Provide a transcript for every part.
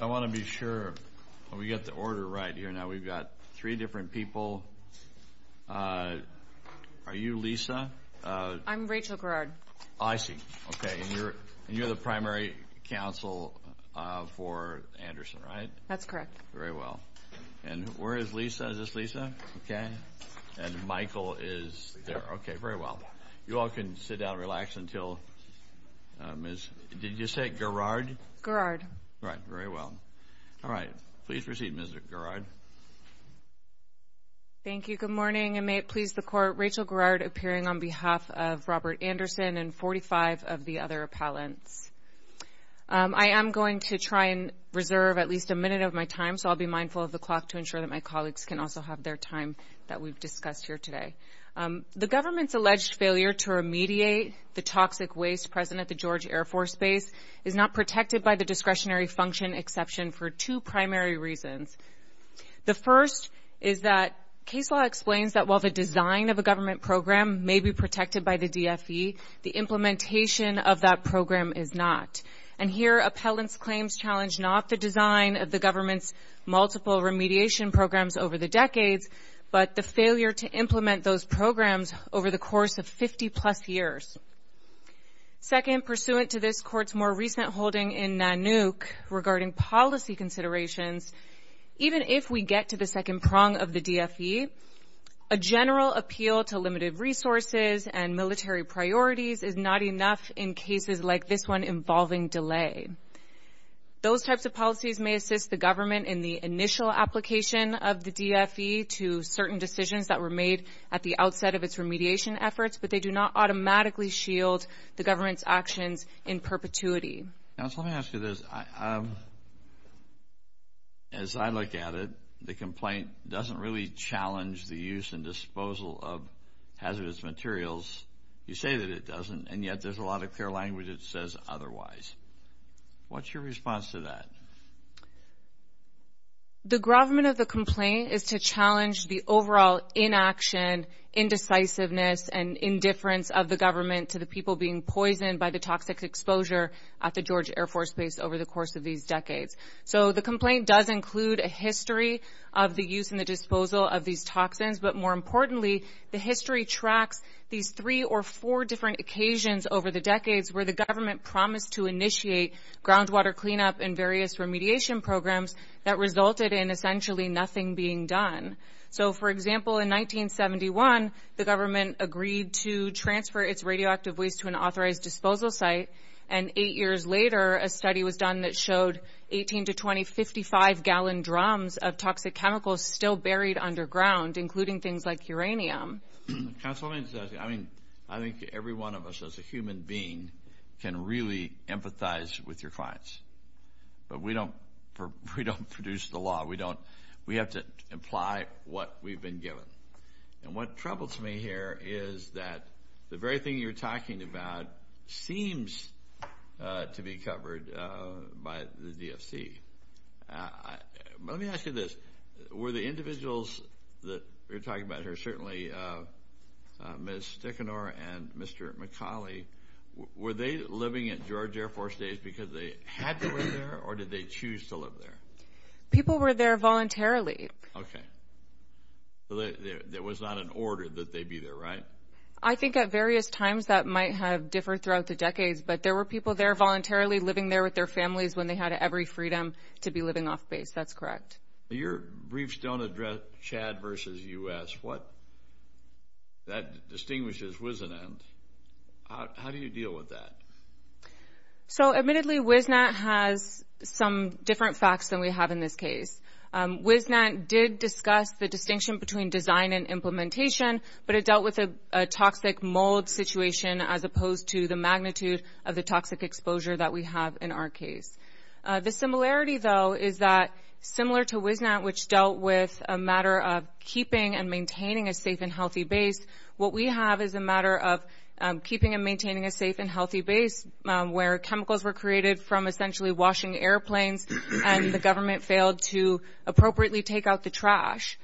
I want to be sure we get the order right here. Now we've got three different people. Are you Lisa? I'm Rachel Garrard. Oh, I see. Okay, and you're the primary counsel for Anderson, right? That's correct. Very well. And where is Lisa? Is this Lisa? Okay. And Michael is there. Okay, very well. You all can sit down and relax until Ms. Did you say Garrard? Garrard. All right, very well. All right, please proceed, Ms. Garrard. Thank you. Good morning, and may it please the Court, Rachel Garrard appearing on behalf of Robert Anderson and 45 of the other appellants. I am going to try and reserve at least a minute of my time, so I'll be mindful of the clock to ensure that my colleagues can also have their time that we've discussed here today. The government's alleged failure to remediate the toxic waste present at the George Air Force Base is not protected by the discretionary function exception for two primary reasons. The first is that case law explains that while the design of a government program may be protected by the DFE, the implementation of that program is not. And here appellants' claims challenge not the design of the government's multiple remediation programs over the decades, but the failure to implement those programs over the course of 50-plus years. Second, pursuant to this Court's more recent holding in NANUC regarding policy considerations, even if we get to the second prong of the DFE, a general appeal to limited resources and military priorities is not enough in cases like this one involving delay. Those types of policies may assist the government in the initial application of the DFE to certain decisions that were made at the outset of its remediation efforts, but they do not automatically shield the government's actions in perpetuity. Let me ask you this. As I look at it, the complaint doesn't really challenge the use and disposal of hazardous materials. You say that it doesn't, and yet there's a lot of clear language that says otherwise. What's your response to that? The government of the complaint is to challenge the overall inaction, indecisiveness, and indifference of the government to the people being poisoned by the toxic exposure at the Georgia Air Force Base over the course of these decades. So the complaint does include a history of the use and the disposal of these toxins, but more importantly, the history tracks these three or four different occasions over the decades where the government promised to initiate groundwater cleanup and various remediation programs that resulted in essentially nothing being done. So, for example, in 1971, the government agreed to transfer its radioactive waste to an authorized disposal site, and eight years later, a study was done that showed 18 to 20 55-gallon drums of toxic chemicals still buried underground, including things like uranium. Counsel, let me just ask you, I think every one of us as a human being can really empathize with your clients, but we don't produce the law. We have to imply what we've been given. And what troubles me here is that the very thing you're talking about seems to be covered by the DFC. Let me ask you this. Were the individuals that you're talking about here, certainly Ms. Stichenor and Mr. McAuley, were they living at Georgia Air Force Base because they had to live there, or did they choose to live there? People were there voluntarily. Okay. So there was not an order that they be there, right? I think at various times that might have differed throughout the decades, but there were people there voluntarily living there with their families when they had every freedom to be living off base. That's correct. Your briefs don't address Chad versus U.S. What that distinguishes WISNAT. How do you deal with that? So admittedly, WISNAT has some different facts than we have in this case. WISNAT did discuss the distinction between design and implementation, but it dealt with a toxic mold situation as opposed to the magnitude of the toxic exposure that we have in our case. The similarity, though, is that similar to WISNAT, which dealt with a matter of keeping and maintaining a safe and healthy base, what we have is a matter of keeping and maintaining a safe and healthy base where chemicals were created from essentially washing airplanes, and the government failed to appropriately take out the trash.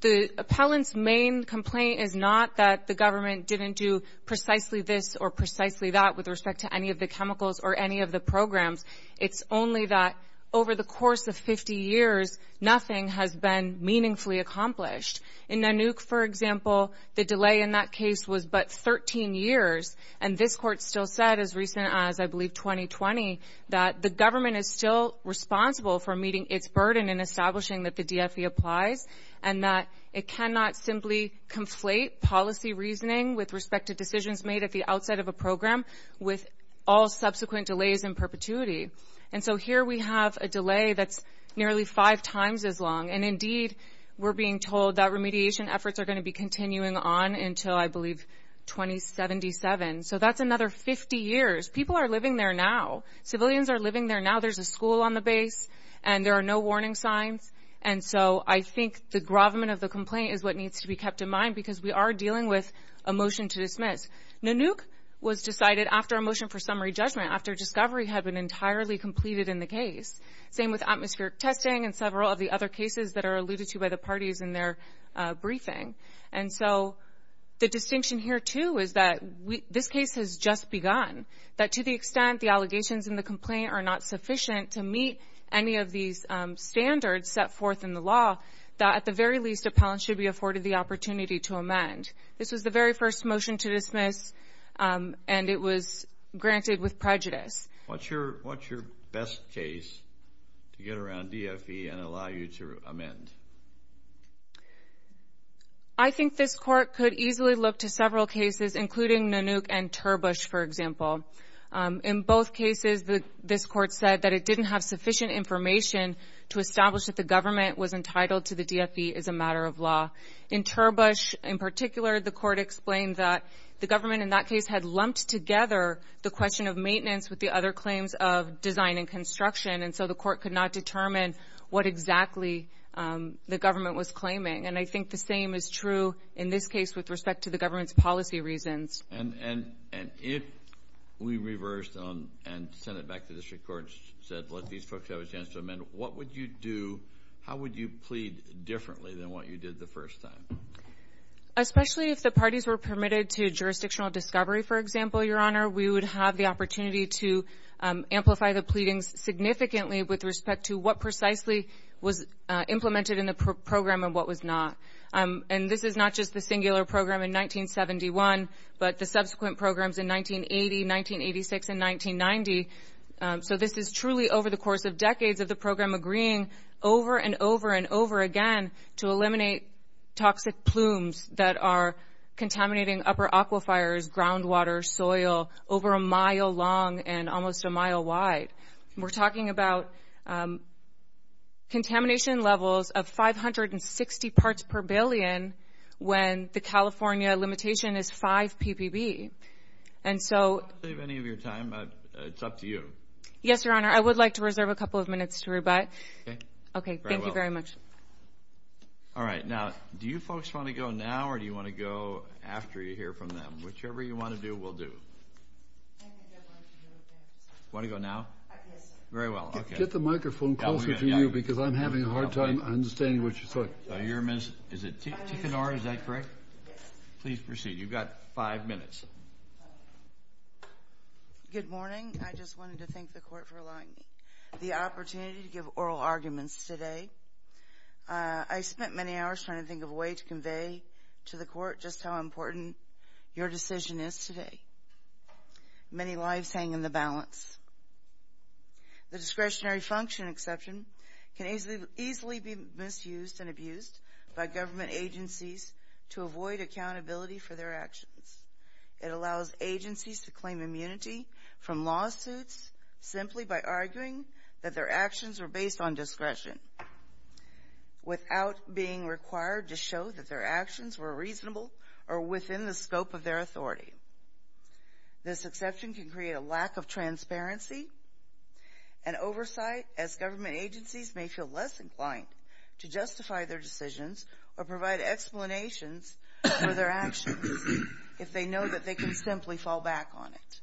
The appellant's main complaint is not that the government didn't do precisely this or precisely that with respect to any of the chemicals or any of the programs. It's only that over the course of 50 years, nothing has been meaningfully accomplished. In Nanook, for example, the delay in that case was but 13 years, and this Court still said as recent as, I believe, 2020, that the government is still responsible for meeting its burden in establishing that the DFE applies and that it cannot simply conflate policy reasoning with respect to decisions made at the outside of a program with all subsequent delays in perpetuity. And so here we have a delay that's nearly five times as long, and indeed we're being told that remediation efforts are going to be continuing on until, I believe, 2077. So that's another 50 years. People are living there now. Civilians are living there now. There's a school on the base, and there are no warning signs. And so I think the gravamen of the complaint is what needs to be kept in mind because we are dealing with a motion to dismiss. Nanook was decided after a motion for summary judgment, after discovery had been entirely completed in the case. Same with atmospheric testing and several of the other cases that are alluded to by the parties in their briefing. And so the distinction here, too, is that this case has just begun, that to the extent the allegations in the complaint are not sufficient to meet any of these standards set forth in the law, that at the very least appellants should be afforded the opportunity to amend. This was the very first motion to dismiss, and it was granted with prejudice. What's your best case to get around DFE and allow you to amend? I think this Court could easily look to several cases, including Nanook and Turbush, for example. In both cases, this Court said that it didn't have sufficient information to establish that the government was entitled to the DFE as a matter of law. In Turbush in particular, the Court explained that the government in that case had lumped together the question of maintenance with the other claims of design and construction, and so the Court could not determine what exactly the government was claiming. And I think the same is true in this case with respect to the government's policy reasons. And if we reversed and sent it back to district courts, said let these folks have a chance to amend, what would you do, how would you plead differently than what you did the first time? Especially if the parties were permitted to jurisdictional discovery, for example, Your Honor, we would have the opportunity to amplify the pleadings significantly with respect to what precisely was implemented in the program and what was not. And this is not just the singular program in 1971, but the subsequent programs in 1980, 1986, and 1990. So this is truly over the course of decades of the program agreeing over and over and over again to eliminate toxic plumes that are contaminating upper aquifers, groundwater, soil, over a mile long and almost a mile wide. We're talking about contamination levels of 560 parts per billion when the California limitation is 5 ppb. And so – I don't want to save any of your time. It's up to you. Yes, Your Honor. I would like to reserve a couple of minutes to rebut. Okay. Okay. Thank you very much. All right. Now, do you folks want to go now or do you want to go after you hear from them? Whichever you want to do, we'll do. Want to go now? Yes, sir. Very well. Get the microphone closer to you because I'm having a hard time understanding what you're saying. Is it Ticanora? Is that correct? Yes. Please proceed. You've got five minutes. Good morning. Good morning. I just wanted to thank the Court for allowing me the opportunity to give oral arguments today. I spent many hours trying to think of a way to convey to the Court just how important your decision is today. Many lives hang in the balance. The discretionary function exception can easily be misused and abused by government agencies to avoid accountability for their actions. It allows agencies to claim immunity from lawsuits simply by arguing that their actions are based on discretion without being required to show that their actions were reasonable or within the scope of their authority. This exception can create a lack of transparency and oversight as government agencies may feel less inclined to justify their decisions or provide explanations for their actions. If they know that they can simply fall back on it.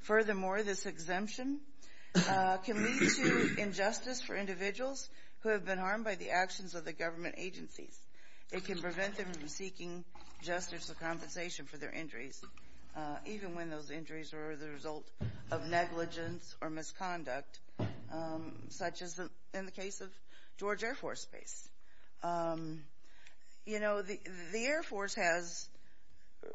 Furthermore, this exemption can lead to injustice for individuals who have been harmed by the actions of the government agencies. It can prevent them from seeking justice or compensation for their injuries, even when those injuries are the result of negligence or misconduct, such as in the case of George Air Force Base. You know, the Air Force has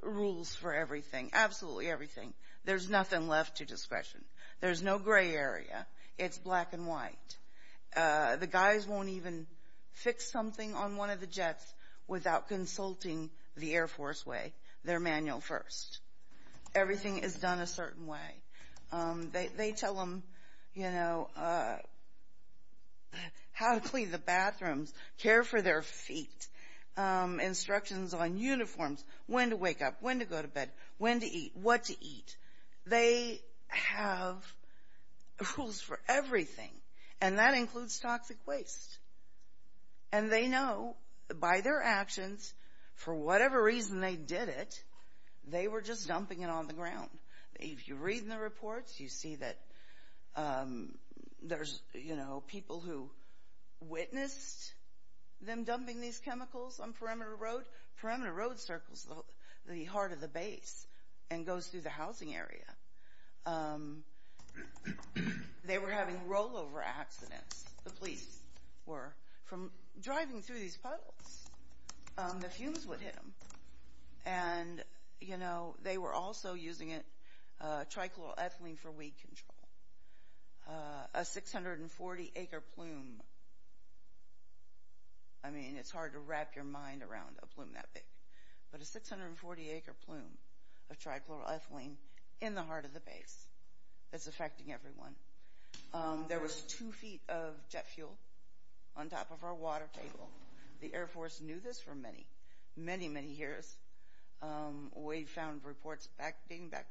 rules for everything, absolutely everything. There's nothing left to discretion. There's no gray area. It's black and white. The guys won't even fix something on one of the jets without consulting the Air Force way, their manual first. Everything is done a certain way. They tell them, you know, how to clean the bathrooms, care for their feet, instructions on uniforms, when to wake up, when to go to bed, when to eat, what to eat. They have rules for everything, and that includes toxic waste. And they know by their actions, for whatever reason they did it, they were just dumping it on the ground. If you read in the reports, you see that there's, you know, people who witnessed them dumping these chemicals on Perimeter Road. Perimeter Road circles the heart of the base and goes through the housing area. They were having rollover accidents, the police were, from driving through these puddles. The fumes would hit them. And, you know, they were also using it, trichloroethylene for weed control. A 640-acre plume, I mean, it's hard to wrap your mind around a plume that big, but a 640-acre plume of trichloroethylene in the heart of the base. It's affecting everyone. There was two feet of jet fuel on top of our water table. The Air Force knew this for many, many, many years. We found reports dating back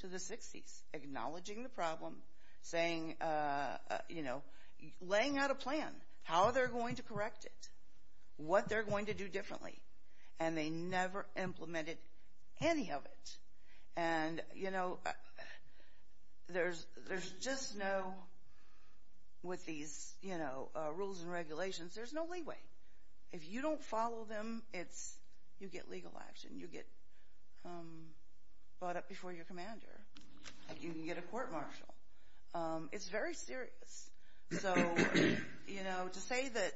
to the 60s acknowledging the problem, saying, you know, laying out a plan, how they're going to correct it, what they're going to do differently. And they never implemented any of it. And, you know, there's just no, with these rules and regulations, there's no leeway. If you don't follow them, you get legal action. You get brought up before your commander. You can get a court-martial. It's very serious. So, you know, to say that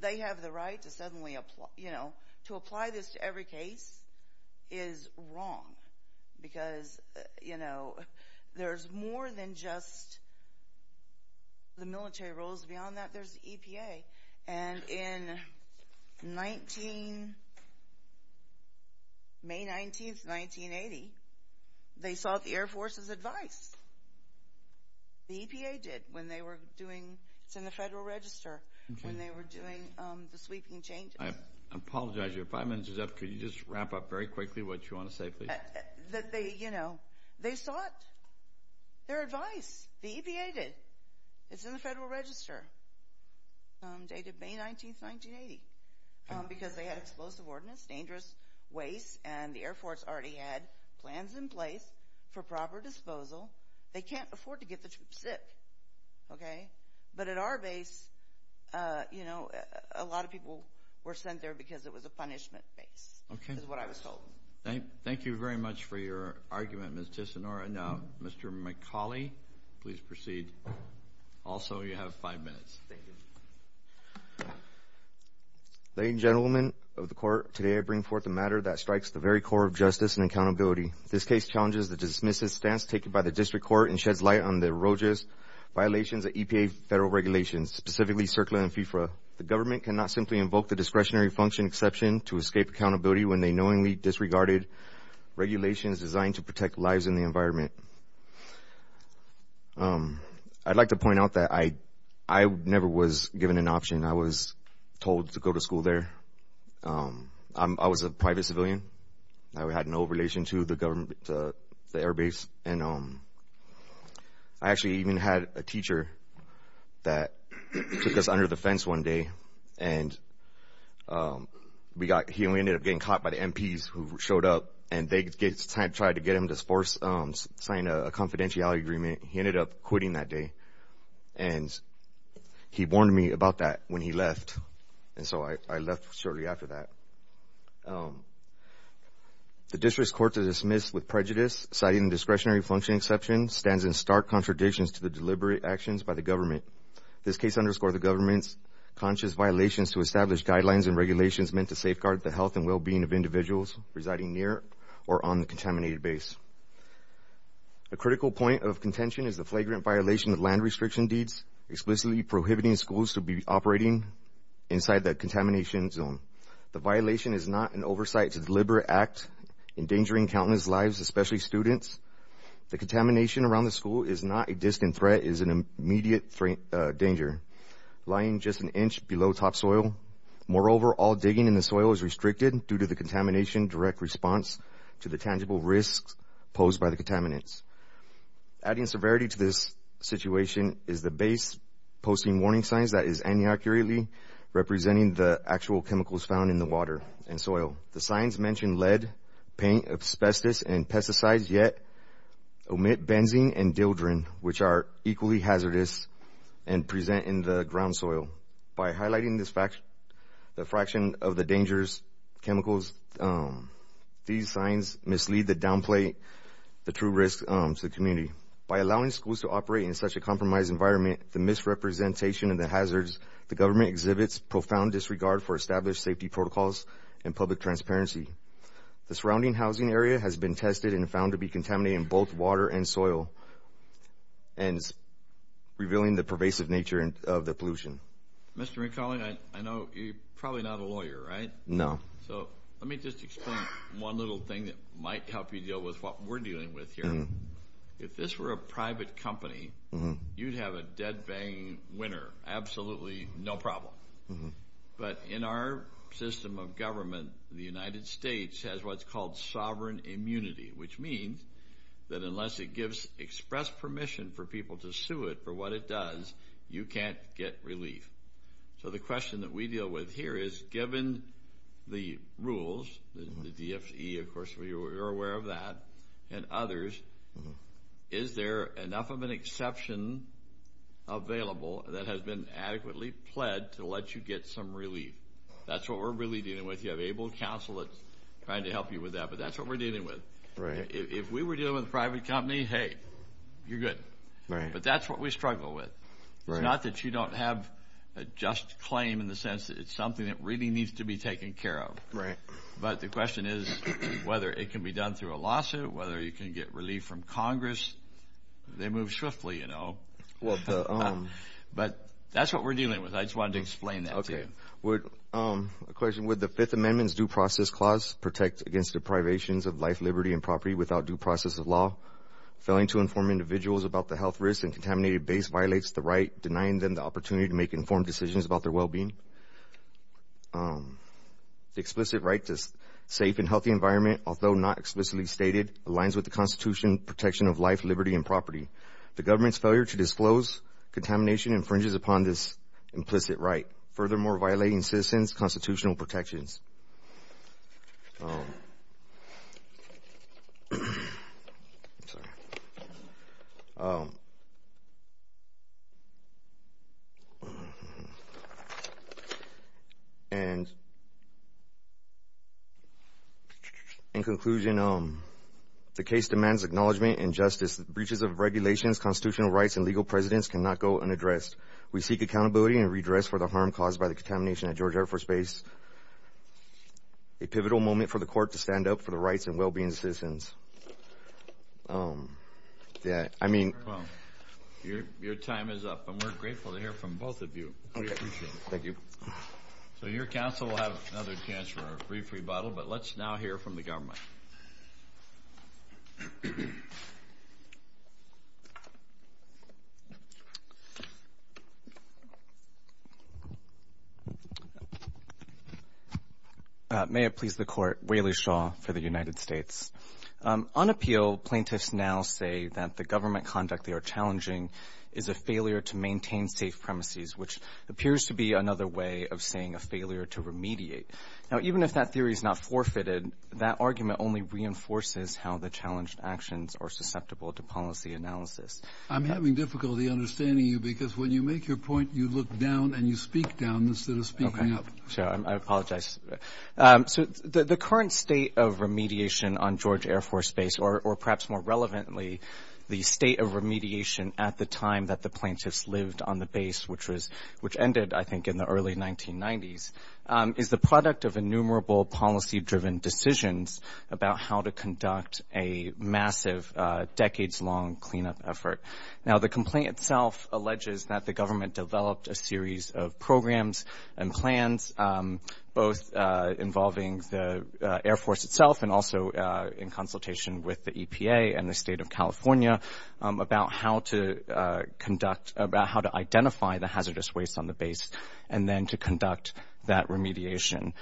they have the right to suddenly, you know, to apply this to every case is wrong. Because, you know, there's more than just the military rules. Beyond that, there's the EPA. And in May 19, 1980, they sought the Air Force's advice. The EPA did when they were doing, it's in the Federal Register, when they were doing the sweeping changes. I apologize. Your five minutes is up. Could you just wrap up very quickly what you want to say, please? That they, you know, they sought their advice. The EPA did. It's in the Federal Register dated May 19, 1980. Because they had explosive ordnance, dangerous waste, and the Air Force already had plans in place for proper disposal. They can't afford to get the troops sick. Okay? But at our base, you know, a lot of people were sent there because it was a punishment base is what I was told. Thank you very much for your argument, Ms. Tissonora. Now, Mr. McCauley, please proceed. Also, you have five minutes. Thank you. Ladies and gentlemen of the court, today I bring forth a matter that strikes the very core of justice and accountability. This case challenges the dismissive stance taken by the district court and sheds light on the erogeous violations of EPA federal regulations, specifically CERCLA and FFRA. The government cannot simply invoke the discretionary function exception to escape accountability when they knowingly disregarded regulations designed to protect lives and the environment. I'd like to point out that I never was given an option. I was told to go to school there. I was a private civilian. I had no relation to the Air Base. And I actually even had a teacher that took us under the fence one day, and he ended up getting caught by the MPs who showed up, and they tried to get him to sign a confidentiality agreement. He ended up quitting that day. And he warned me about that when he left, and so I left shortly after that. The district's courts are dismissed with prejudice, citing the discretionary function exception stands in stark contradictions to the deliberate actions by the government. This case underscores the government's conscious violations to establish guidelines and regulations meant to safeguard the health and well-being of individuals residing near or on the contaminated base. A critical point of contention is the flagrant violation of land restriction deeds, explicitly prohibiting schools to be operating inside the contamination zone. The violation is not an oversight to deliberate act endangering countless lives, especially students. The contamination around the school is not a distant threat. It is an immediate danger, lying just an inch below topsoil. Moreover, all digging in the soil is restricted due to the contamination, direct response to the tangible risks posed by the contaminants. Adding severity to this situation is the base posting warning signs that is inaccurately representing the actual chemicals found in the water and soil. The signs mention lead, paint, asbestos, and pesticides, yet omit benzene and dildrin, which are equally hazardous and present in the ground soil. By highlighting the fraction of the dangerous chemicals, these signs mislead the downplay the true risks to the community. By allowing schools to operate in such a compromised environment, the misrepresentation of the hazards the government exhibits profound disregard for established safety protocols and public transparency. The surrounding housing area has been tested and found to be contaminating both water and soil and revealing the pervasive nature of the pollution. Mr. McCauley, I know you're probably not a lawyer, right? No. So let me just explain one little thing that might help you deal with what we're dealing with here. If this were a private company, you'd have a dead-bang winner, absolutely no problem. But in our system of government, the United States has what's called sovereign immunity, which means that unless it gives express permission for people to sue it for what it does, you can't get relief. So the question that we deal with here is, given the rules, the DFE, of course, you're aware of that, and others, is there enough of an exception available that has been adequately pled to let you get some relief? That's what we're really dealing with. You have able counsel that's trying to help you with that, but that's what we're dealing with. If we were dealing with a private company, hey, you're good. But that's what we struggle with. It's not that you don't have a just claim in the sense that it's something that really needs to be taken care of. But the question is whether it can be done through a lawsuit, whether you can get relief from Congress. They move swiftly, you know. But that's what we're dealing with. I just wanted to explain that to you. A question. Would the Fifth Amendment's Due Process Clause protect against deprivations of life, liberty, and property without due process of law? Failing to inform individuals about the health risks and contaminated base violates the right, denying them the opportunity to make informed decisions about their well-being. The explicit right to a safe and healthy environment, although not explicitly stated, aligns with the Constitution's protection of life, liberty, and property. The government's failure to disclose contamination infringes upon this implicit right. Furthermore, violating citizens' constitutional protections. In conclusion, the case demands acknowledgement and justice. Breaches of regulations, constitutional rights, and legal precedents cannot go unaddressed. We seek accountability and redress for the harm caused by the contamination at Georgia Air Force Base. A pivotal moment for the court to stand up for the rights and well-being of citizens. Yeah, I mean. Well, your time is up. And we're grateful to hear from both of you. We appreciate it. Thank you. So your counsel will have another chance for a brief rebuttal, but let's now hear from the government. May it please the Court. Waley Shaw for the United States. On appeal, plaintiffs now say that the government conduct they are challenging is a failure to maintain safe premises, which appears to be another way of saying a failure to remediate. Now, even if that theory is not forfeited, that argument only reinforces how the challenged actions are susceptible to policy analysis. I'm having difficulty understanding you because when you make your point, you look down and you speak down instead of speaking up. Sure. I apologize. So the current state of remediation on Georgia Air Force Base, or perhaps more relevantly, the state of remediation at the time that the plaintiffs lived on the base, which ended, I think, in the early 1990s, is the product of innumerable policy-driven decisions about how to conduct a massive, decades-long cleanup effort. Now, the complaint itself alleges that the government developed a series of programs and plans, both involving the Air Force itself and also in consultation with the EPA and the State of California, about how to conduct, about how to identify the hazardous waste on the base and then to conduct that remediation.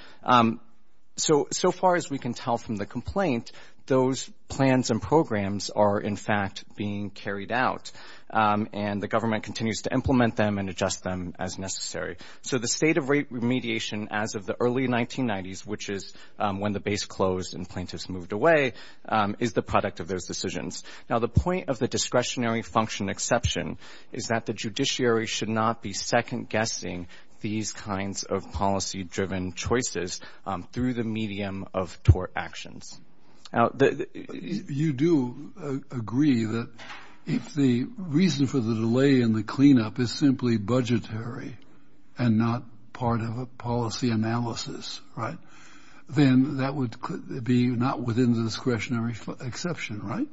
So far as we can tell from the complaint, those plans and programs are, in fact, being carried out, and the government continues to implement them and adjust them as necessary. So the state of remediation as of the early 1990s, which is when the base closed and plaintiffs moved away, is the product of those decisions. Now, the point of the discretionary function exception is that the judiciary should not be second-guessing these kinds of policy-driven choices through the medium of tort actions. You do agree that if the reason for the delay in the cleanup is simply budgetary and not part of a policy analysis, right, then that would be not within the discretionary exception, right?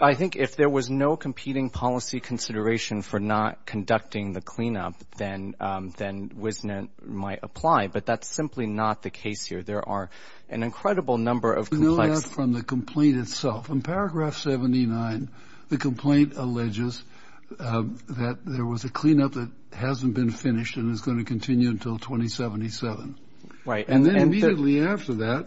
I think if there was no competing policy consideration for not conducting the cleanup, then WISNET might apply, but that's simply not the case here. There are an incredible number of complex. You know that from the complaint itself. In Paragraph 79, the complaint alleges that there was a cleanup that hasn't been finished and is going to continue until 2077. Right. And then immediately after that,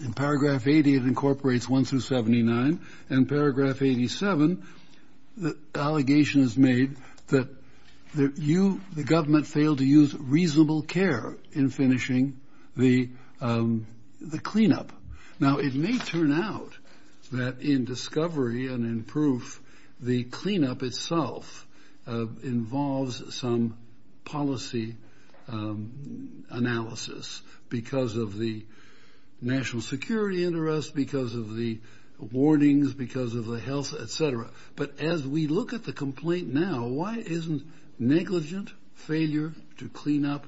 in Paragraph 80, it incorporates 1 through 79, and Paragraph 87, the allegation is made that you, the government, failed to use reasonable care in finishing the cleanup. Now, it may turn out that in discovery and in proof, the cleanup itself involves some policy analysis because of the But as we look at the complaint now, why isn't negligent failure to clean up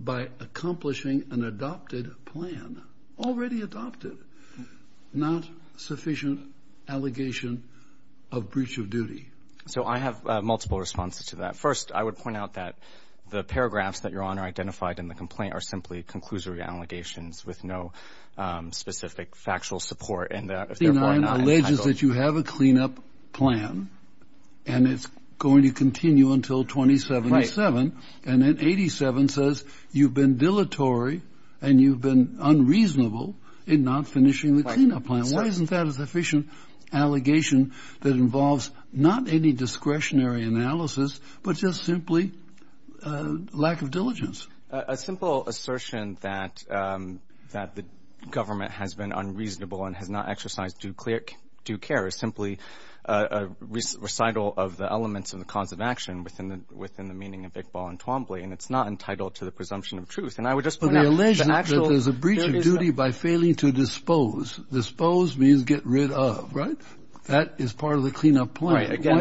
by accomplishing an adopted plan, already adopted, not sufficient allegation of breach of duty? So I have multiple responses to that. First, I would point out that the paragraphs that you're on are identified in the complaint are simply with no specific factual support in that. Paragraph 79 alleges that you have a cleanup plan and it's going to continue until 2077. Right. And then 87 says you've been dilatory and you've been unreasonable in not finishing the cleanup plan. Why isn't that a sufficient allegation that involves not any discretionary analysis, but just simply lack of diligence? A simple assertion that the government has been unreasonable and has not exercised due care is simply a recital of the elements and the cause of action within the meaning of Iqbal and Twombly, and it's not entitled to the presumption of truth. And I would just point out the actual- But they allege that there's a breach of duty by failing to dispose. Dispose means get rid of, right? That is part of the cleanup plan. Right, again- Again,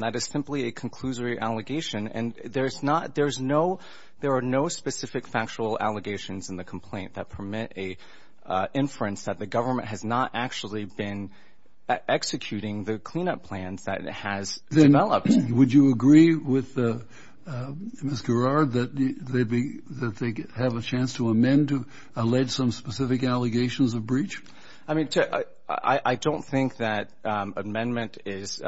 that is simply a conclusory allegation, and there are no specific factual allegations in the complaint that permit an inference that the government has not actually been executing the cleanup plans that it has developed. Would you agree with Ms. Garrard that they have a chance to amend to allege some specific allegations of breach? I mean, I don't think that amendment is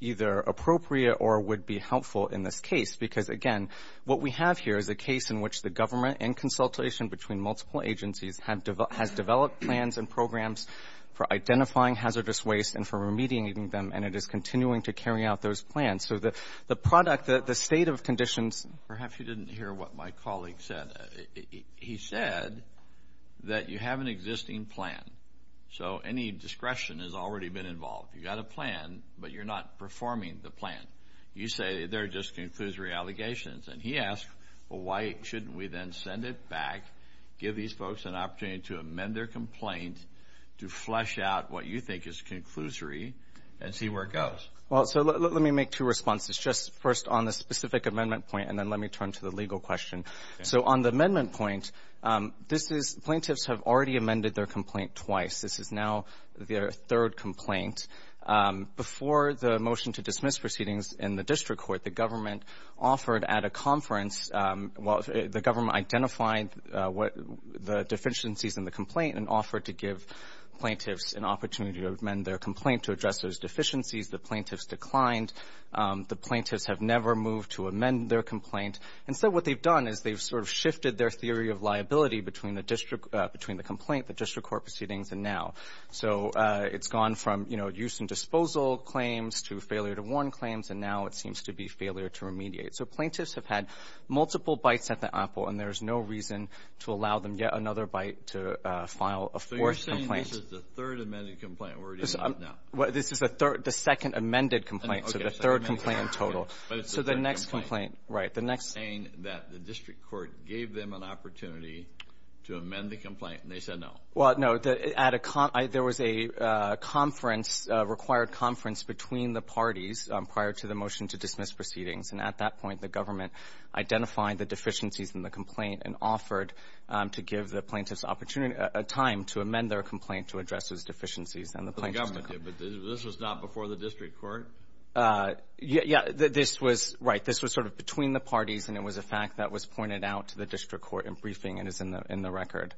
either appropriate or would be helpful in this case because, again, what we have here is a case in which the government, in consultation between multiple agencies, has developed plans and programs for identifying hazardous waste and for remediating them, and it is continuing to carry out those plans. So the product, the state of conditions- Perhaps you didn't hear what my colleague said. He said that you have an existing plan, so any discretion has already been involved. You've got a plan, but you're not performing the plan. You say they're just conclusory allegations. And he asked, well, why shouldn't we then send it back, give these folks an opportunity to amend their complaint, to flesh out what you think is conclusory, and see where it goes? Well, so let me make two responses, just first on the specific amendment point, and then let me turn to the legal question. So on the amendment point, this is plaintiffs have already amended their complaint twice. This is now their third complaint. Before the motion to dismiss proceedings in the district court, the government offered at a conference, the government identified the deficiencies in the complaint and offered to give plaintiffs an opportunity to amend their complaint to address those deficiencies. The plaintiffs declined. The plaintiffs have never moved to amend their complaint. Instead, what they've done is they've sort of shifted their theory of liability between the district — between the complaint, the district court proceedings, and now. So it's gone from, you know, use and disposal claims to failure to warn claims, and now it seems to be failure to remediate. So plaintiffs have had multiple bites at the apple, and there is no reason to allow them yet another bite to file a fourth complaint. So you're saying this is the third amended complaint we're dealing with now? Well, this is the third — the second amended complaint. So the third complaint in total. But it's the third complaint. Right. The next — You're saying that the district court gave them an opportunity to amend the complaint, and they said no. Well, no. There was a conference, a required conference between the parties prior to the motion to dismiss proceedings. And at that point, the government identified the deficiencies in the complaint and offered to give the plaintiffs a time to amend their complaint to address those deficiencies. The government did, but this was not before the district court? Yeah. This was — right. This was sort of between the parties, and it was a fact that was pointed out to the district court in briefing and is in the record.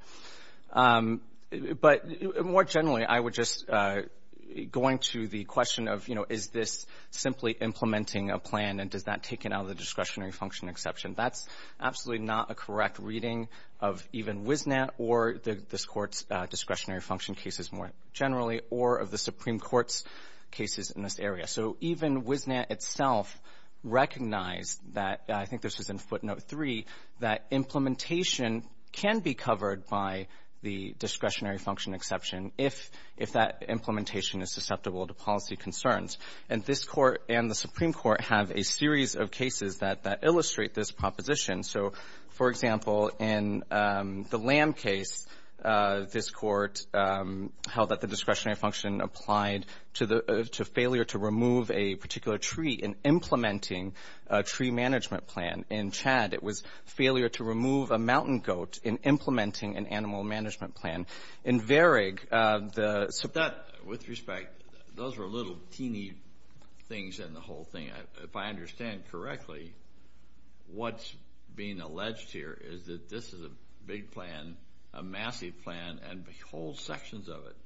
But more generally, I would just — going to the question of, you know, is this simply implementing a plan and does that take it out of the discretionary function exception, that's absolutely not a correct reading of even WISNAT or this Court's discretionary function cases more generally or of the Supreme Court's cases in this area. So even WISNAT itself recognized that — I think this was in footnote 3 — that implementation can be covered by the discretionary function exception if that implementation is susceptible to policy concerns. And this Court and the Supreme Court have a series of cases that illustrate this proposition. So, for example, in the Lamb case, this Court held that the discretionary function applied to failure to remove a particular tree in implementing a tree management plan. In Chad, it was failure to remove a mountain goat in implementing an animal management plan. In Varig, the — With respect, those were little teeny things in the whole thing. If I understand correctly, what's being alleged here is that this is a big plan, a massive plan, and whole sections of it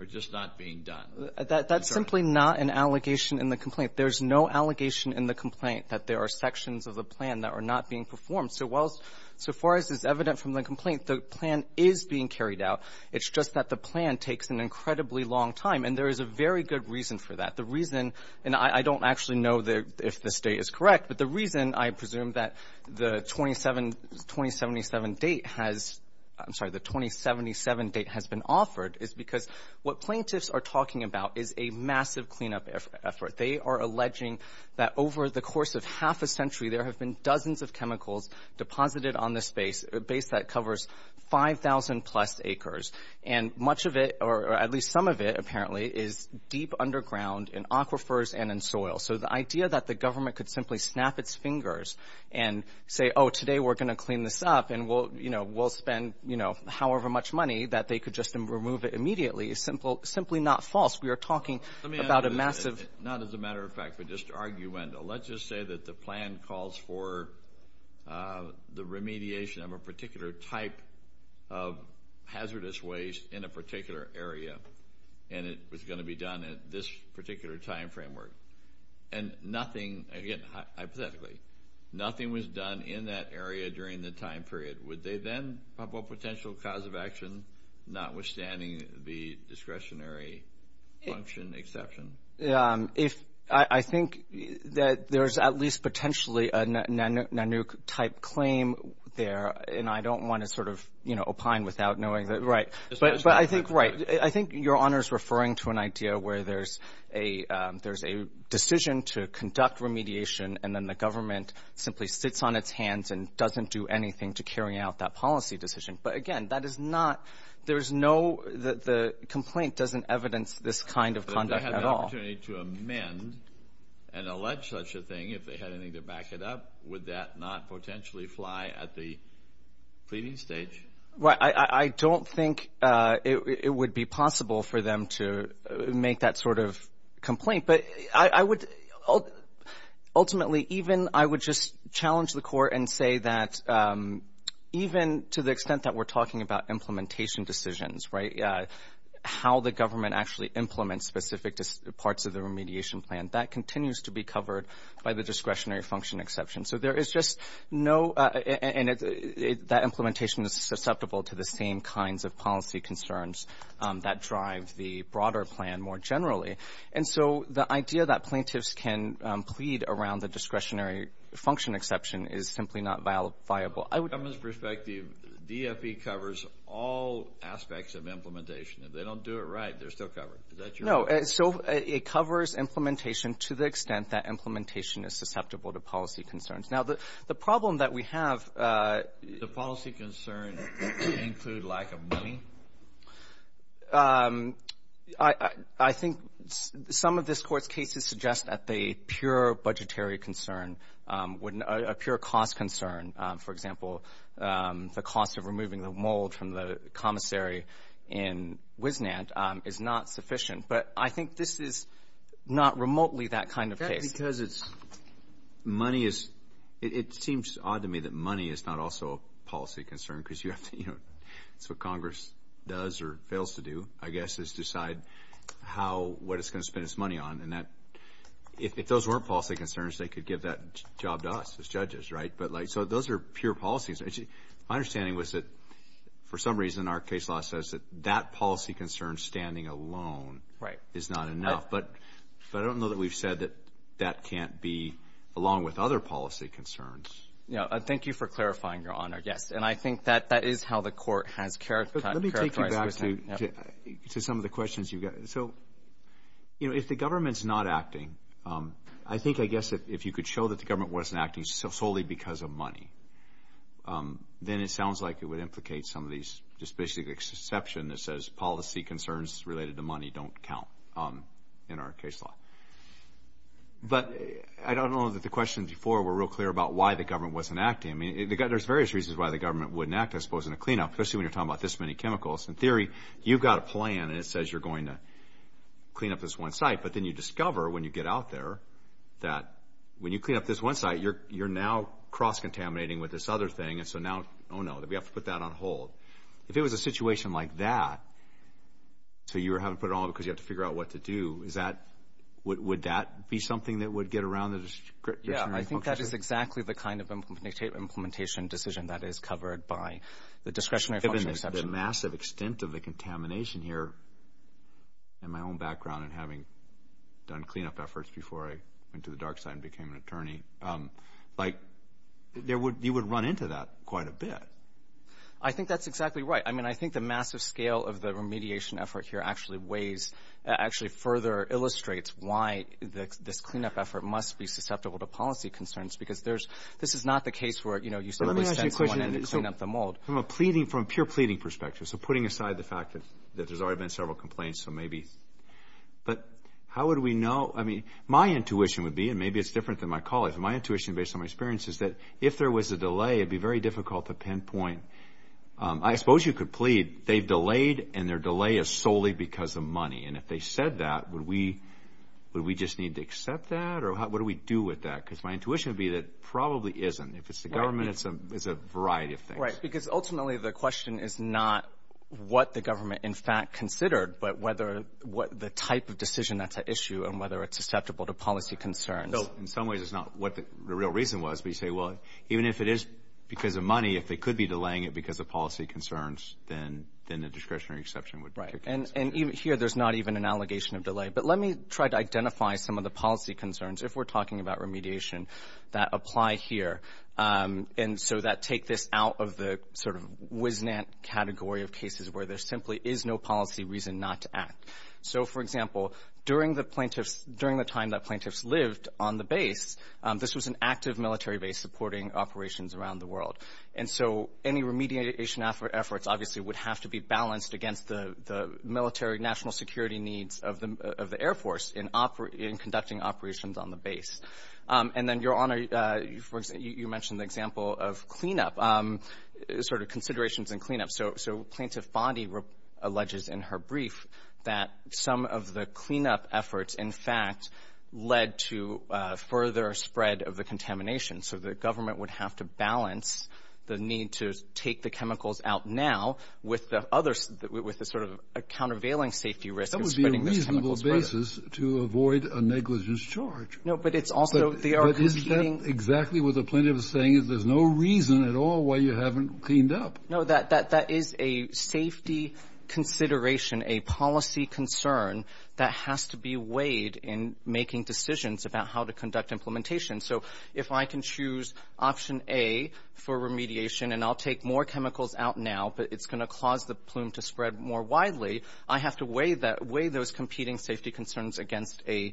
are just not being done. That's simply not an allegation in the complaint. There's no allegation in the complaint that there are sections of the plan that are not being performed. So while — so far as is evident from the complaint, the plan is being carried out. It's just that the plan takes an incredibly long time, and there is a very good reason for that. The reason — and I don't actually know if the State is correct, but the reason, I presume, that the 27 — 2077 date has — I'm sorry, the 2077 date has been offered is because what plaintiffs are talking about is a massive cleanup effort. They are alleging that over the course of half a century, there have been dozens of chemicals deposited on this base, a base that covers 5,000-plus acres. And much of it, or at least some of it, apparently, is deep underground in aquifers and in soil. So the idea that the government could simply snap its fingers and say, oh, today we're going to clean this up, and we'll, you know, we'll spend, you know, however much money, that they could just remove it immediately is simply not false. We are talking about a massive — Let me add to that. Not as a matter of fact, but just arguendo. Let's just say that the plan calls for the remediation of a particular type of hazardous waste in a particular time framework, and nothing — again, hypothetically, nothing was done in that area during the time period. Would they then pop up a potential cause of action, notwithstanding the discretionary function exception? If — I think that there's at least potentially a NANUC-type claim there, and I don't want to sort of, you know, opine without knowing that — right. But I think you're right. I think Your Honor's referring to an idea where there's a decision to conduct remediation, and then the government simply sits on its hands and doesn't do anything to carry out that policy decision. But again, that is not — there's no — the complaint doesn't evidence this kind of conduct at all. But if they had an opportunity to amend and allege such a thing, if they had anything to back it up, would that not potentially fly at the pleading stage? Well, I don't think it would be possible for them to make that sort of complaint. But I would — ultimately, even I would just challenge the Court and say that even to the extent that we're talking about implementation decisions, right, how the government actually implements specific parts of the remediation plan, that continues to be covered by the discretionary function exception. So there is just no — and that implementation is susceptible to the same kinds of policy concerns that drive the broader plan more generally. And so the idea that plaintiffs can plead around the discretionary function exception is simply not viable. I would — From the government's perspective, DFE covers all aspects of implementation. If they don't do it right, they're still covered. Is that your — Now, the problem that we have — The policy concerns include lack of money? I think some of this Court's cases suggest that the pure budgetary concern wouldn't — a pure cost concern, for example, the cost of removing the mold from the commissary in Wisnant is not sufficient. But I think this is not remotely that kind of case. Because it's — money is — it seems odd to me that money is not also a policy concern because you have to — it's what Congress does or fails to do, I guess, is decide how — what it's going to spend its money on. And that — if those weren't policy concerns, they could give that job to us as judges, right? But like — so those are pure policies. My understanding was that for some reason our case law Right. But I don't know that we've said that that can't be along with other policy concerns. Yeah. Thank you for clarifying, Your Honor. Yes. And I think that that is how the Court has characterized — Let me take you back to some of the questions you've got. So, you know, if the government's not acting, I think, I guess, if you could show that the government wasn't acting solely because of money, then it sounds like it would implicate some of these — just basically the exception that says policy concerns related to money don't count in our case law. But I don't know that the questions before were real clear about why the government wasn't acting. I mean, there's various reasons why the government wouldn't act, I suppose, in a cleanup, especially when you're talking about this many chemicals. In theory, you've got a plan and it says you're going to clean up this one site. But then you discover when you get out there that when you clean up this one site, you're now cross-contaminating with this other thing. And so now, oh, no, we have to put that on hold. If it was a situation like that, so you were having to put it on hold because you have to figure out what to do, would that be something that would get around the discretionary function? Yeah. I think that is exactly the kind of implementation decision that is covered by the discretionary function exception. Given the massive extent of the contamination here, in my own background and having done cleanup efforts before I went to the dark side and became an attorney, like, you would run into that quite a bit. I think that's exactly right. I mean, I think the massive scale of the remediation effort here actually further illustrates why this cleanup effort must be susceptible to policy concerns because this is not the case where you simply send someone in to clean up the mold. Let me ask you a question from a pure pleading perspective, so putting aside the fact that there's already been several complaints, so maybe. But how would we know? I mean, my intuition would be, and maybe it's different than my colleagues, but my intuition based on my experience is that if there was a delay, it would be very difficult to pinpoint. I suppose you could plead they've delayed and their delay is solely because of money, and if they said that, would we just need to accept that? Or what do we do with that? Because my intuition would be that probably isn't. If it's the government, it's a variety of things. Right, because ultimately the question is not what the government in fact considered, but whether the type of decision that's at issue and whether it's susceptible to policy concerns. So in some ways it's not what the real reason was, but you say, well, even if it is because of money, if they could be delaying it because of policy concerns, then the discretionary exception would be. Right. And here there's not even an allegation of delay. But let me try to identify some of the policy concerns, if we're talking about remediation, that apply here. And so that take this out of the sort of wiznant category of cases where there simply is no policy reason not to act. So, for example, during the time that plaintiffs lived on the base, this was an active military base supporting operations around the world. And so any remediation efforts obviously would have to be balanced against the military national security needs of the Air Force in conducting operations on the base. And then, Your Honor, you mentioned the example of cleanup, sort of considerations in cleanup. So Plaintiff Bondi alleges in her brief that some of the cleanup efforts, in fact, led to further spread of the contamination. So the government would have to balance the need to take the chemicals out now with the sort of a countervailing safety risk of spreading this chemical spread. That would be a reasonable basis to avoid a negligence charge. No, but it's also they are competing. But is that exactly what the plaintiff is saying? There's no reason at all why you haven't cleaned up. No, that is a safety consideration, a policy concern that has to be weighed in making decisions about how to conduct implementation. So if I can choose option A for remediation, and I'll take more chemicals out now, but it's going to cause the plume to spread more widely, I have to weigh those competing safety concerns against an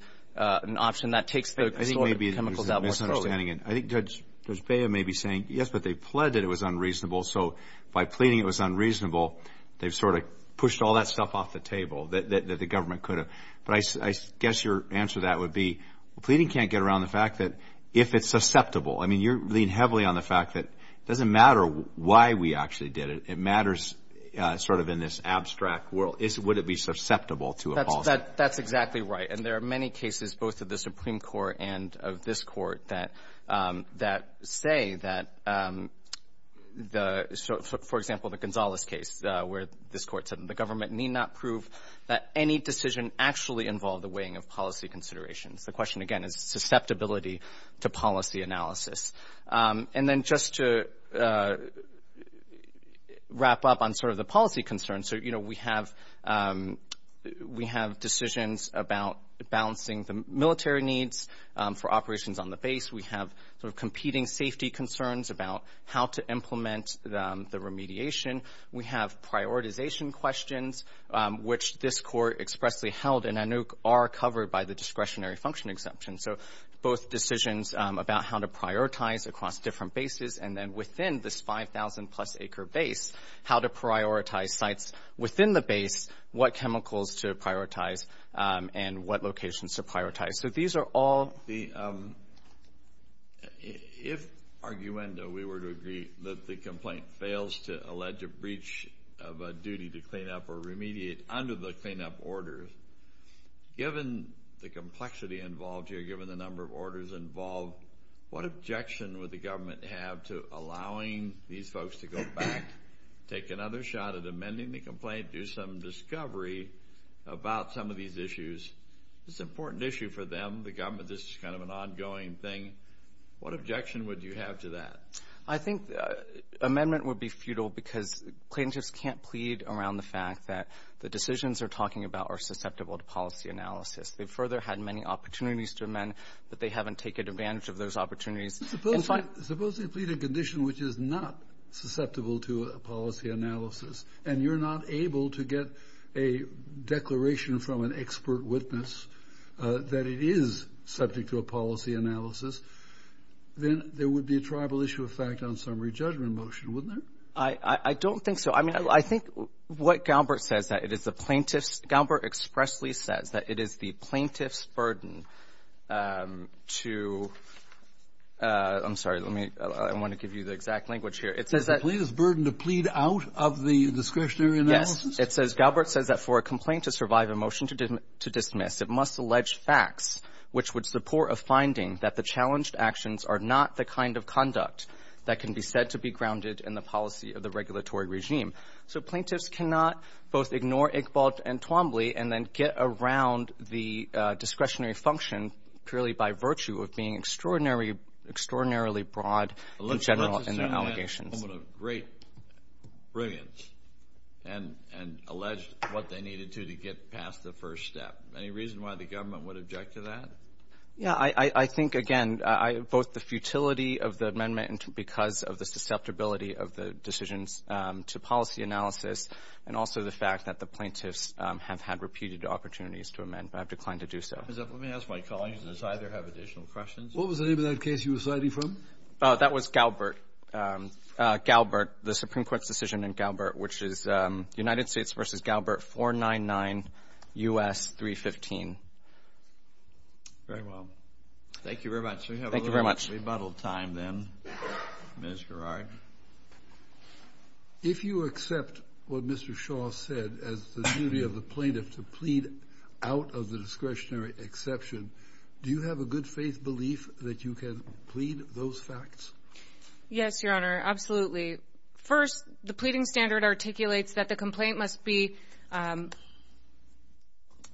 option that takes the sort of chemicals out more thoroughly. I think maybe you're misunderstanding it. I think Judge Bea may be saying, yes, but they pled that it was unreasonable. So by pleading it was unreasonable, they've sort of pushed all that stuff off the table that the government could have. But I guess your answer to that would be, pleading can't get around the fact that if it's susceptible. I mean, you're leaning heavily on the fact that it doesn't matter why we actually did it. It matters sort of in this abstract world. Would it be susceptible to a policy? That's exactly right. And there are many cases, both of the Supreme Court and of this court, that say that, for example, the Gonzales case where this court said the government need not prove that any decision actually involved the weighing of policy considerations. The question, again, is susceptibility to policy analysis. And then just to wrap up on sort of the policy concerns. So, you know, we have decisions about balancing the military needs for operations on the base. We have sort of competing safety concerns about how to implement the remediation. We have prioritization questions, which this court expressly held and I know are covered by the discretionary function exemption. So both decisions about how to prioritize across different bases, and then within this 5,000-plus acre base, how to prioritize sites within the base, what chemicals to prioritize, and what locations to prioritize. So these are all. If, arguendo, we were to agree that the complaint fails to allege a breach of a duty to clean up or remediate under the cleanup order, given the complexity involved here, given the number of orders involved, what objection would the government have to allowing these folks to go back, take another shot at amending the complaint, do some discovery about some of these issues? It's an important issue for them. The government, this is kind of an ongoing thing. What objection would you have to that? I think amendment would be futile because plaintiffs can't plead around the fact that the decisions they're talking about are susceptible to policy analysis. They've further had many opportunities to amend, but they haven't taken advantage of those opportunities. Suppose they plead a condition which is not susceptible to a policy analysis, and you're not able to get a declaration from an expert witness that it is subject to a policy analysis, then there would be a tribal issue of fact on summary judgment motion, wouldn't there? I don't think so. I mean, I think what Galbert says, that it is the plaintiff's, Galbert expressly says that it is the plaintiff's burden to, I'm sorry, let me, I want to give you the exact language here. It says that. The plaintiff's burden to plead out of the discretionary analysis? Yes. It says, Galbert says that for a complaint to survive a motion to dismiss, it must allege facts which would support a finding that the challenged actions are not the kind of conduct that can be said to be grounded in the policy of the regulatory regime. So plaintiffs cannot both ignore Iqbal and Twombly and then get around the discretionary function purely by virtue of being extraordinarily broad in general in their allegations. And alleged what they needed to to get past the first step. Any reason why the government would object to that? Yeah, I think, again, both the futility of the amendment because of the susceptibility of the decisions to policy analysis and also the fact that the plaintiffs have had repeated opportunities to amend but have declined to do so. Let me ask my colleagues, does either have additional questions? What was the name of that case you were citing from? Oh, that was Galbert. Galbert, the Supreme Court's decision in Galbert, which is United States v. Galbert, 499 U.S. 315. Very well. Thank you very much. Thank you very much. We have a little bit of rebuttal time then. Ms. Gerard? If you accept what Mr. Shaw said as the duty of the plaintiff to plead out of the discretionary exception, do you have a good-faith belief that you can plead those facts? Yes, Your Honor. Absolutely. First, the pleading standard articulates that the complaint must be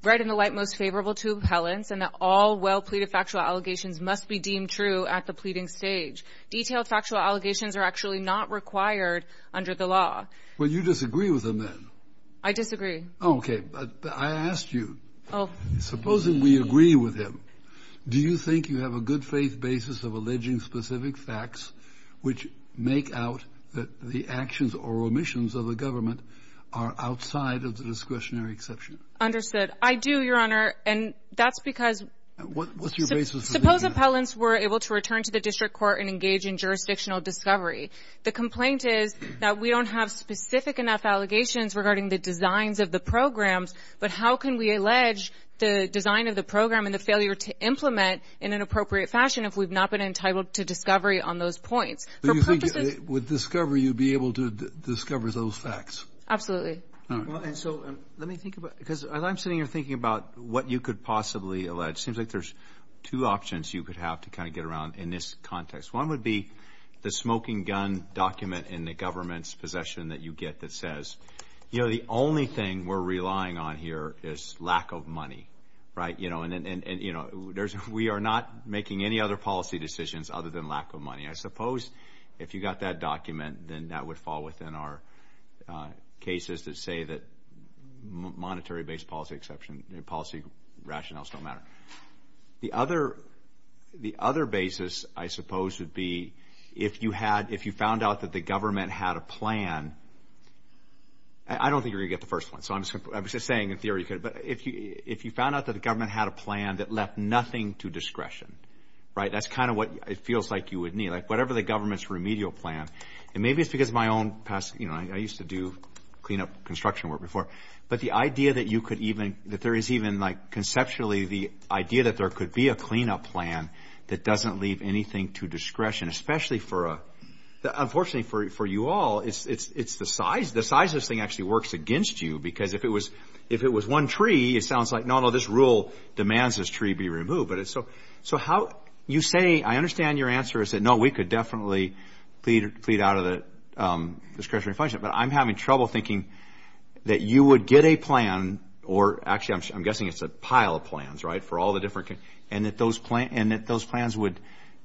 read in the light most favorable to appellants and that all well-pleaded factual allegations must be deemed true at the pleading stage. Detailed factual allegations are actually not required under the law. Well, you disagree with him then? I disagree. Okay. I asked you. Supposing we agree with him, do you think you have a good-faith basis of alleging specific facts which make out that the actions or omissions of the government are outside of the discretionary exception? Understood. I do, Your Honor, and that's because we're able to return to the district court and engage in jurisdictional discovery. The complaint is that we don't have specific enough allegations regarding the designs of the programs, but how can we allege the design of the program and the failure to implement in an appropriate fashion if we've not been entitled to discovery on those points? Do you think with discovery you'd be able to discover those facts? Absolutely. All right. Let me think about it, because as I'm sitting here thinking about what you could possibly allege, it seems like there's two options you could have to kind of get around in this context. One would be the smoking gun document in the government's possession that you get that says, you know, the only thing we're relying on here is lack of money, right? And, you know, we are not making any other policy decisions other than lack of money. I suppose if you got that document, then that would fall within our cases that say that monetary-based policy exception, policy rationales don't matter. The other basis, I suppose, would be if you found out that the government had a plan. I don't think you're going to get the first one, so I'm just saying in theory. But if you found out that the government had a plan that left nothing to discretion, right? That's kind of what it feels like you would need, like whatever the government's remedial plan. And maybe it's because my own past, you know, I used to do cleanup construction work before. But the idea that you could even, that there is even like conceptually the idea that there could be a cleanup plan that doesn't leave anything to discretion, especially for a, unfortunately for you all, it's the size, the size of this thing actually works against you. Because if it was one tree, it sounds like, no, no, this rule demands this tree be removed. So how, you say, I understand your answer is that, no, we could definitely plead out of the discretionary function. But I'm having trouble thinking that you would get a plan, or actually I'm guessing it's a pile of plans, right, for all the different, and that those plans would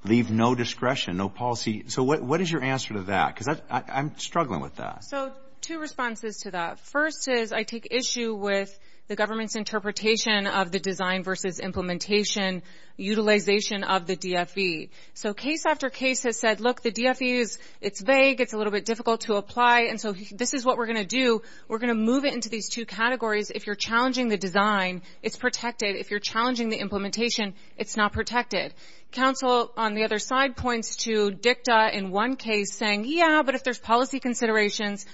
leave no discretion, no policy. So what is your answer to that? Because I'm struggling with that. So two responses to that. First is I take issue with the government's interpretation of the design versus implementation utilization of the DFE. So case after case has said, look, the DFE is, it's vague, it's a little bit difficult to apply. And so this is what we're going to do. We're going to move it into these two categories. If you're challenging the design, it's protected. If you're challenging the implementation, it's not protected. Counsel on the other side points to DICTA in one case saying, yeah, but if there's policy considerations,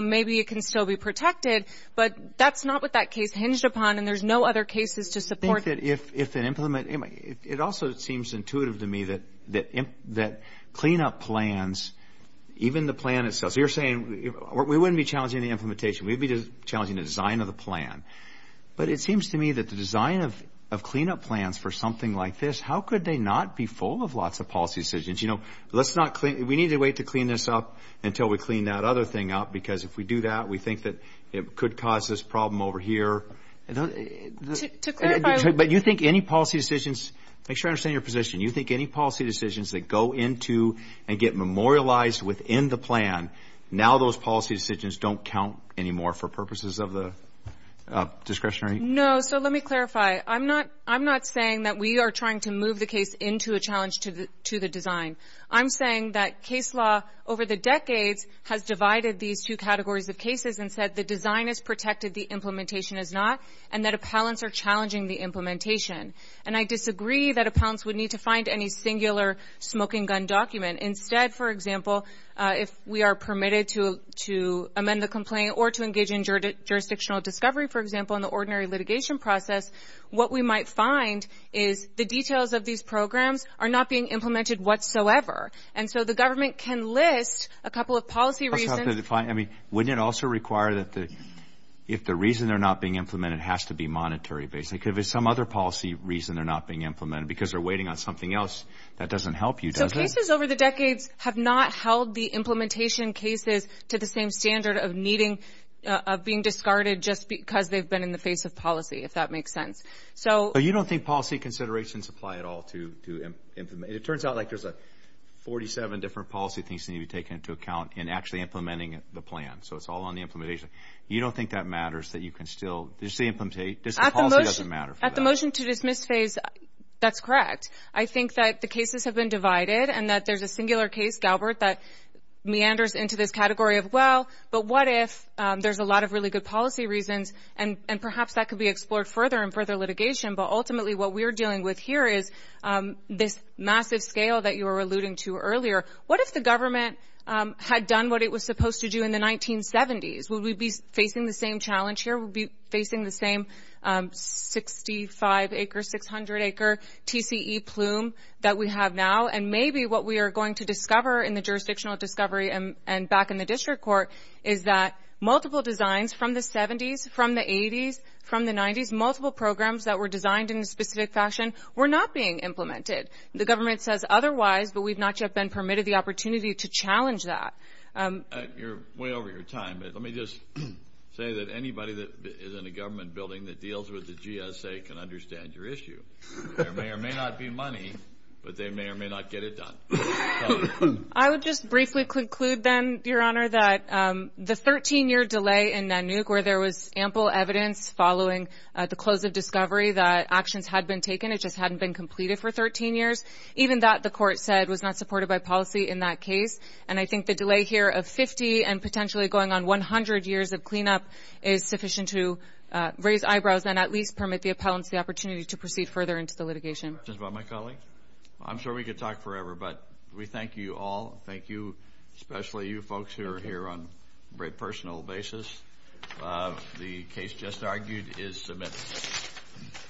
maybe it can still be protected. But that's not what that case hinged upon, and there's no other cases to support it. It also seems intuitive to me that cleanup plans, even the plan itself, so you're saying we wouldn't be challenging the implementation. We'd be challenging the design of the plan. But it seems to me that the design of cleanup plans for something like this, how could they not be full of lots of policy decisions? You know, we need to wait to clean this up until we clean that other thing up, because if we do that, we think that it could cause this problem over here. To clarify. But you think any policy decisions? Make sure I understand your position. You think any policy decisions that go into and get memorialized within the plan, now those policy decisions don't count anymore for purposes of the discretionary? No. So let me clarify. I'm not saying that we are trying to move the case into a challenge to the design. I'm saying that case law over the decades has divided these two categories of cases and said the design is protected, the implementation is not, and that appellants are challenging the implementation. And I disagree that appellants would need to find any singular smoking gun document. Instead, for example, if we are permitted to amend the complaint or to engage in jurisdictional discovery, for example, in the ordinary litigation process, what we might find is the details of these programs are not being implemented whatsoever. And so the government can list a couple of policy reasons. Wouldn't it also require that if the reason they're not being implemented has to be monetary, basically, because if it's some other policy reason they're not being implemented, because they're waiting on something else, that doesn't help you, does it? So cases over the decades have not held the implementation cases to the same standard of being discarded just because they've been in the face of policy, if that makes sense. So you don't think policy considerations apply at all to implement? It turns out like there's 47 different policy things that need to be taken into account in actually implementing the plan. So it's all on the implementation. You don't think that matters that you can still just say implementate? At the motion to dismiss phase, that's correct. I think that the cases have been divided and that there's a singular case, Galbert, that meanders into this category of, well, but what if there's a lot of really good policy reasons and perhaps that could be explored further in further litigation, but ultimately what we're dealing with here is this massive scale that you were alluding to earlier. What if the government had done what it was supposed to do in the 1970s? Would we be facing the same challenge here? Would we be facing the same 65-acre, 600-acre TCE plume that we have now? And maybe what we are going to discover in the jurisdictional discovery and back in the district court is that multiple designs from the 70s, from the 80s, from the 90s, multiple programs that were designed in a specific fashion were not being implemented. The government says otherwise, but we've not yet been permitted the opportunity to challenge that. You're way over your time, but let me just say that anybody that is in a government building that deals with the GSA can understand your issue. There may or may not be money, but they may or may not get it done. I would just briefly conclude then, Your Honor, that the 13-year delay in NANUC where there was ample evidence following the close of discovery that actions had been taken, it just hadn't been completed for 13 years, even that the court said was not supported by policy in that case. And I think the delay here of 50 and potentially going on 100 years of cleanup is sufficient to raise eyebrows and at least permit the appellants the opportunity to proceed further into the litigation. Questions about my colleague? I'm sure we could talk forever, but we thank you all. Thank you, especially you folks who are here on a very personal basis. The case just argued is submitted.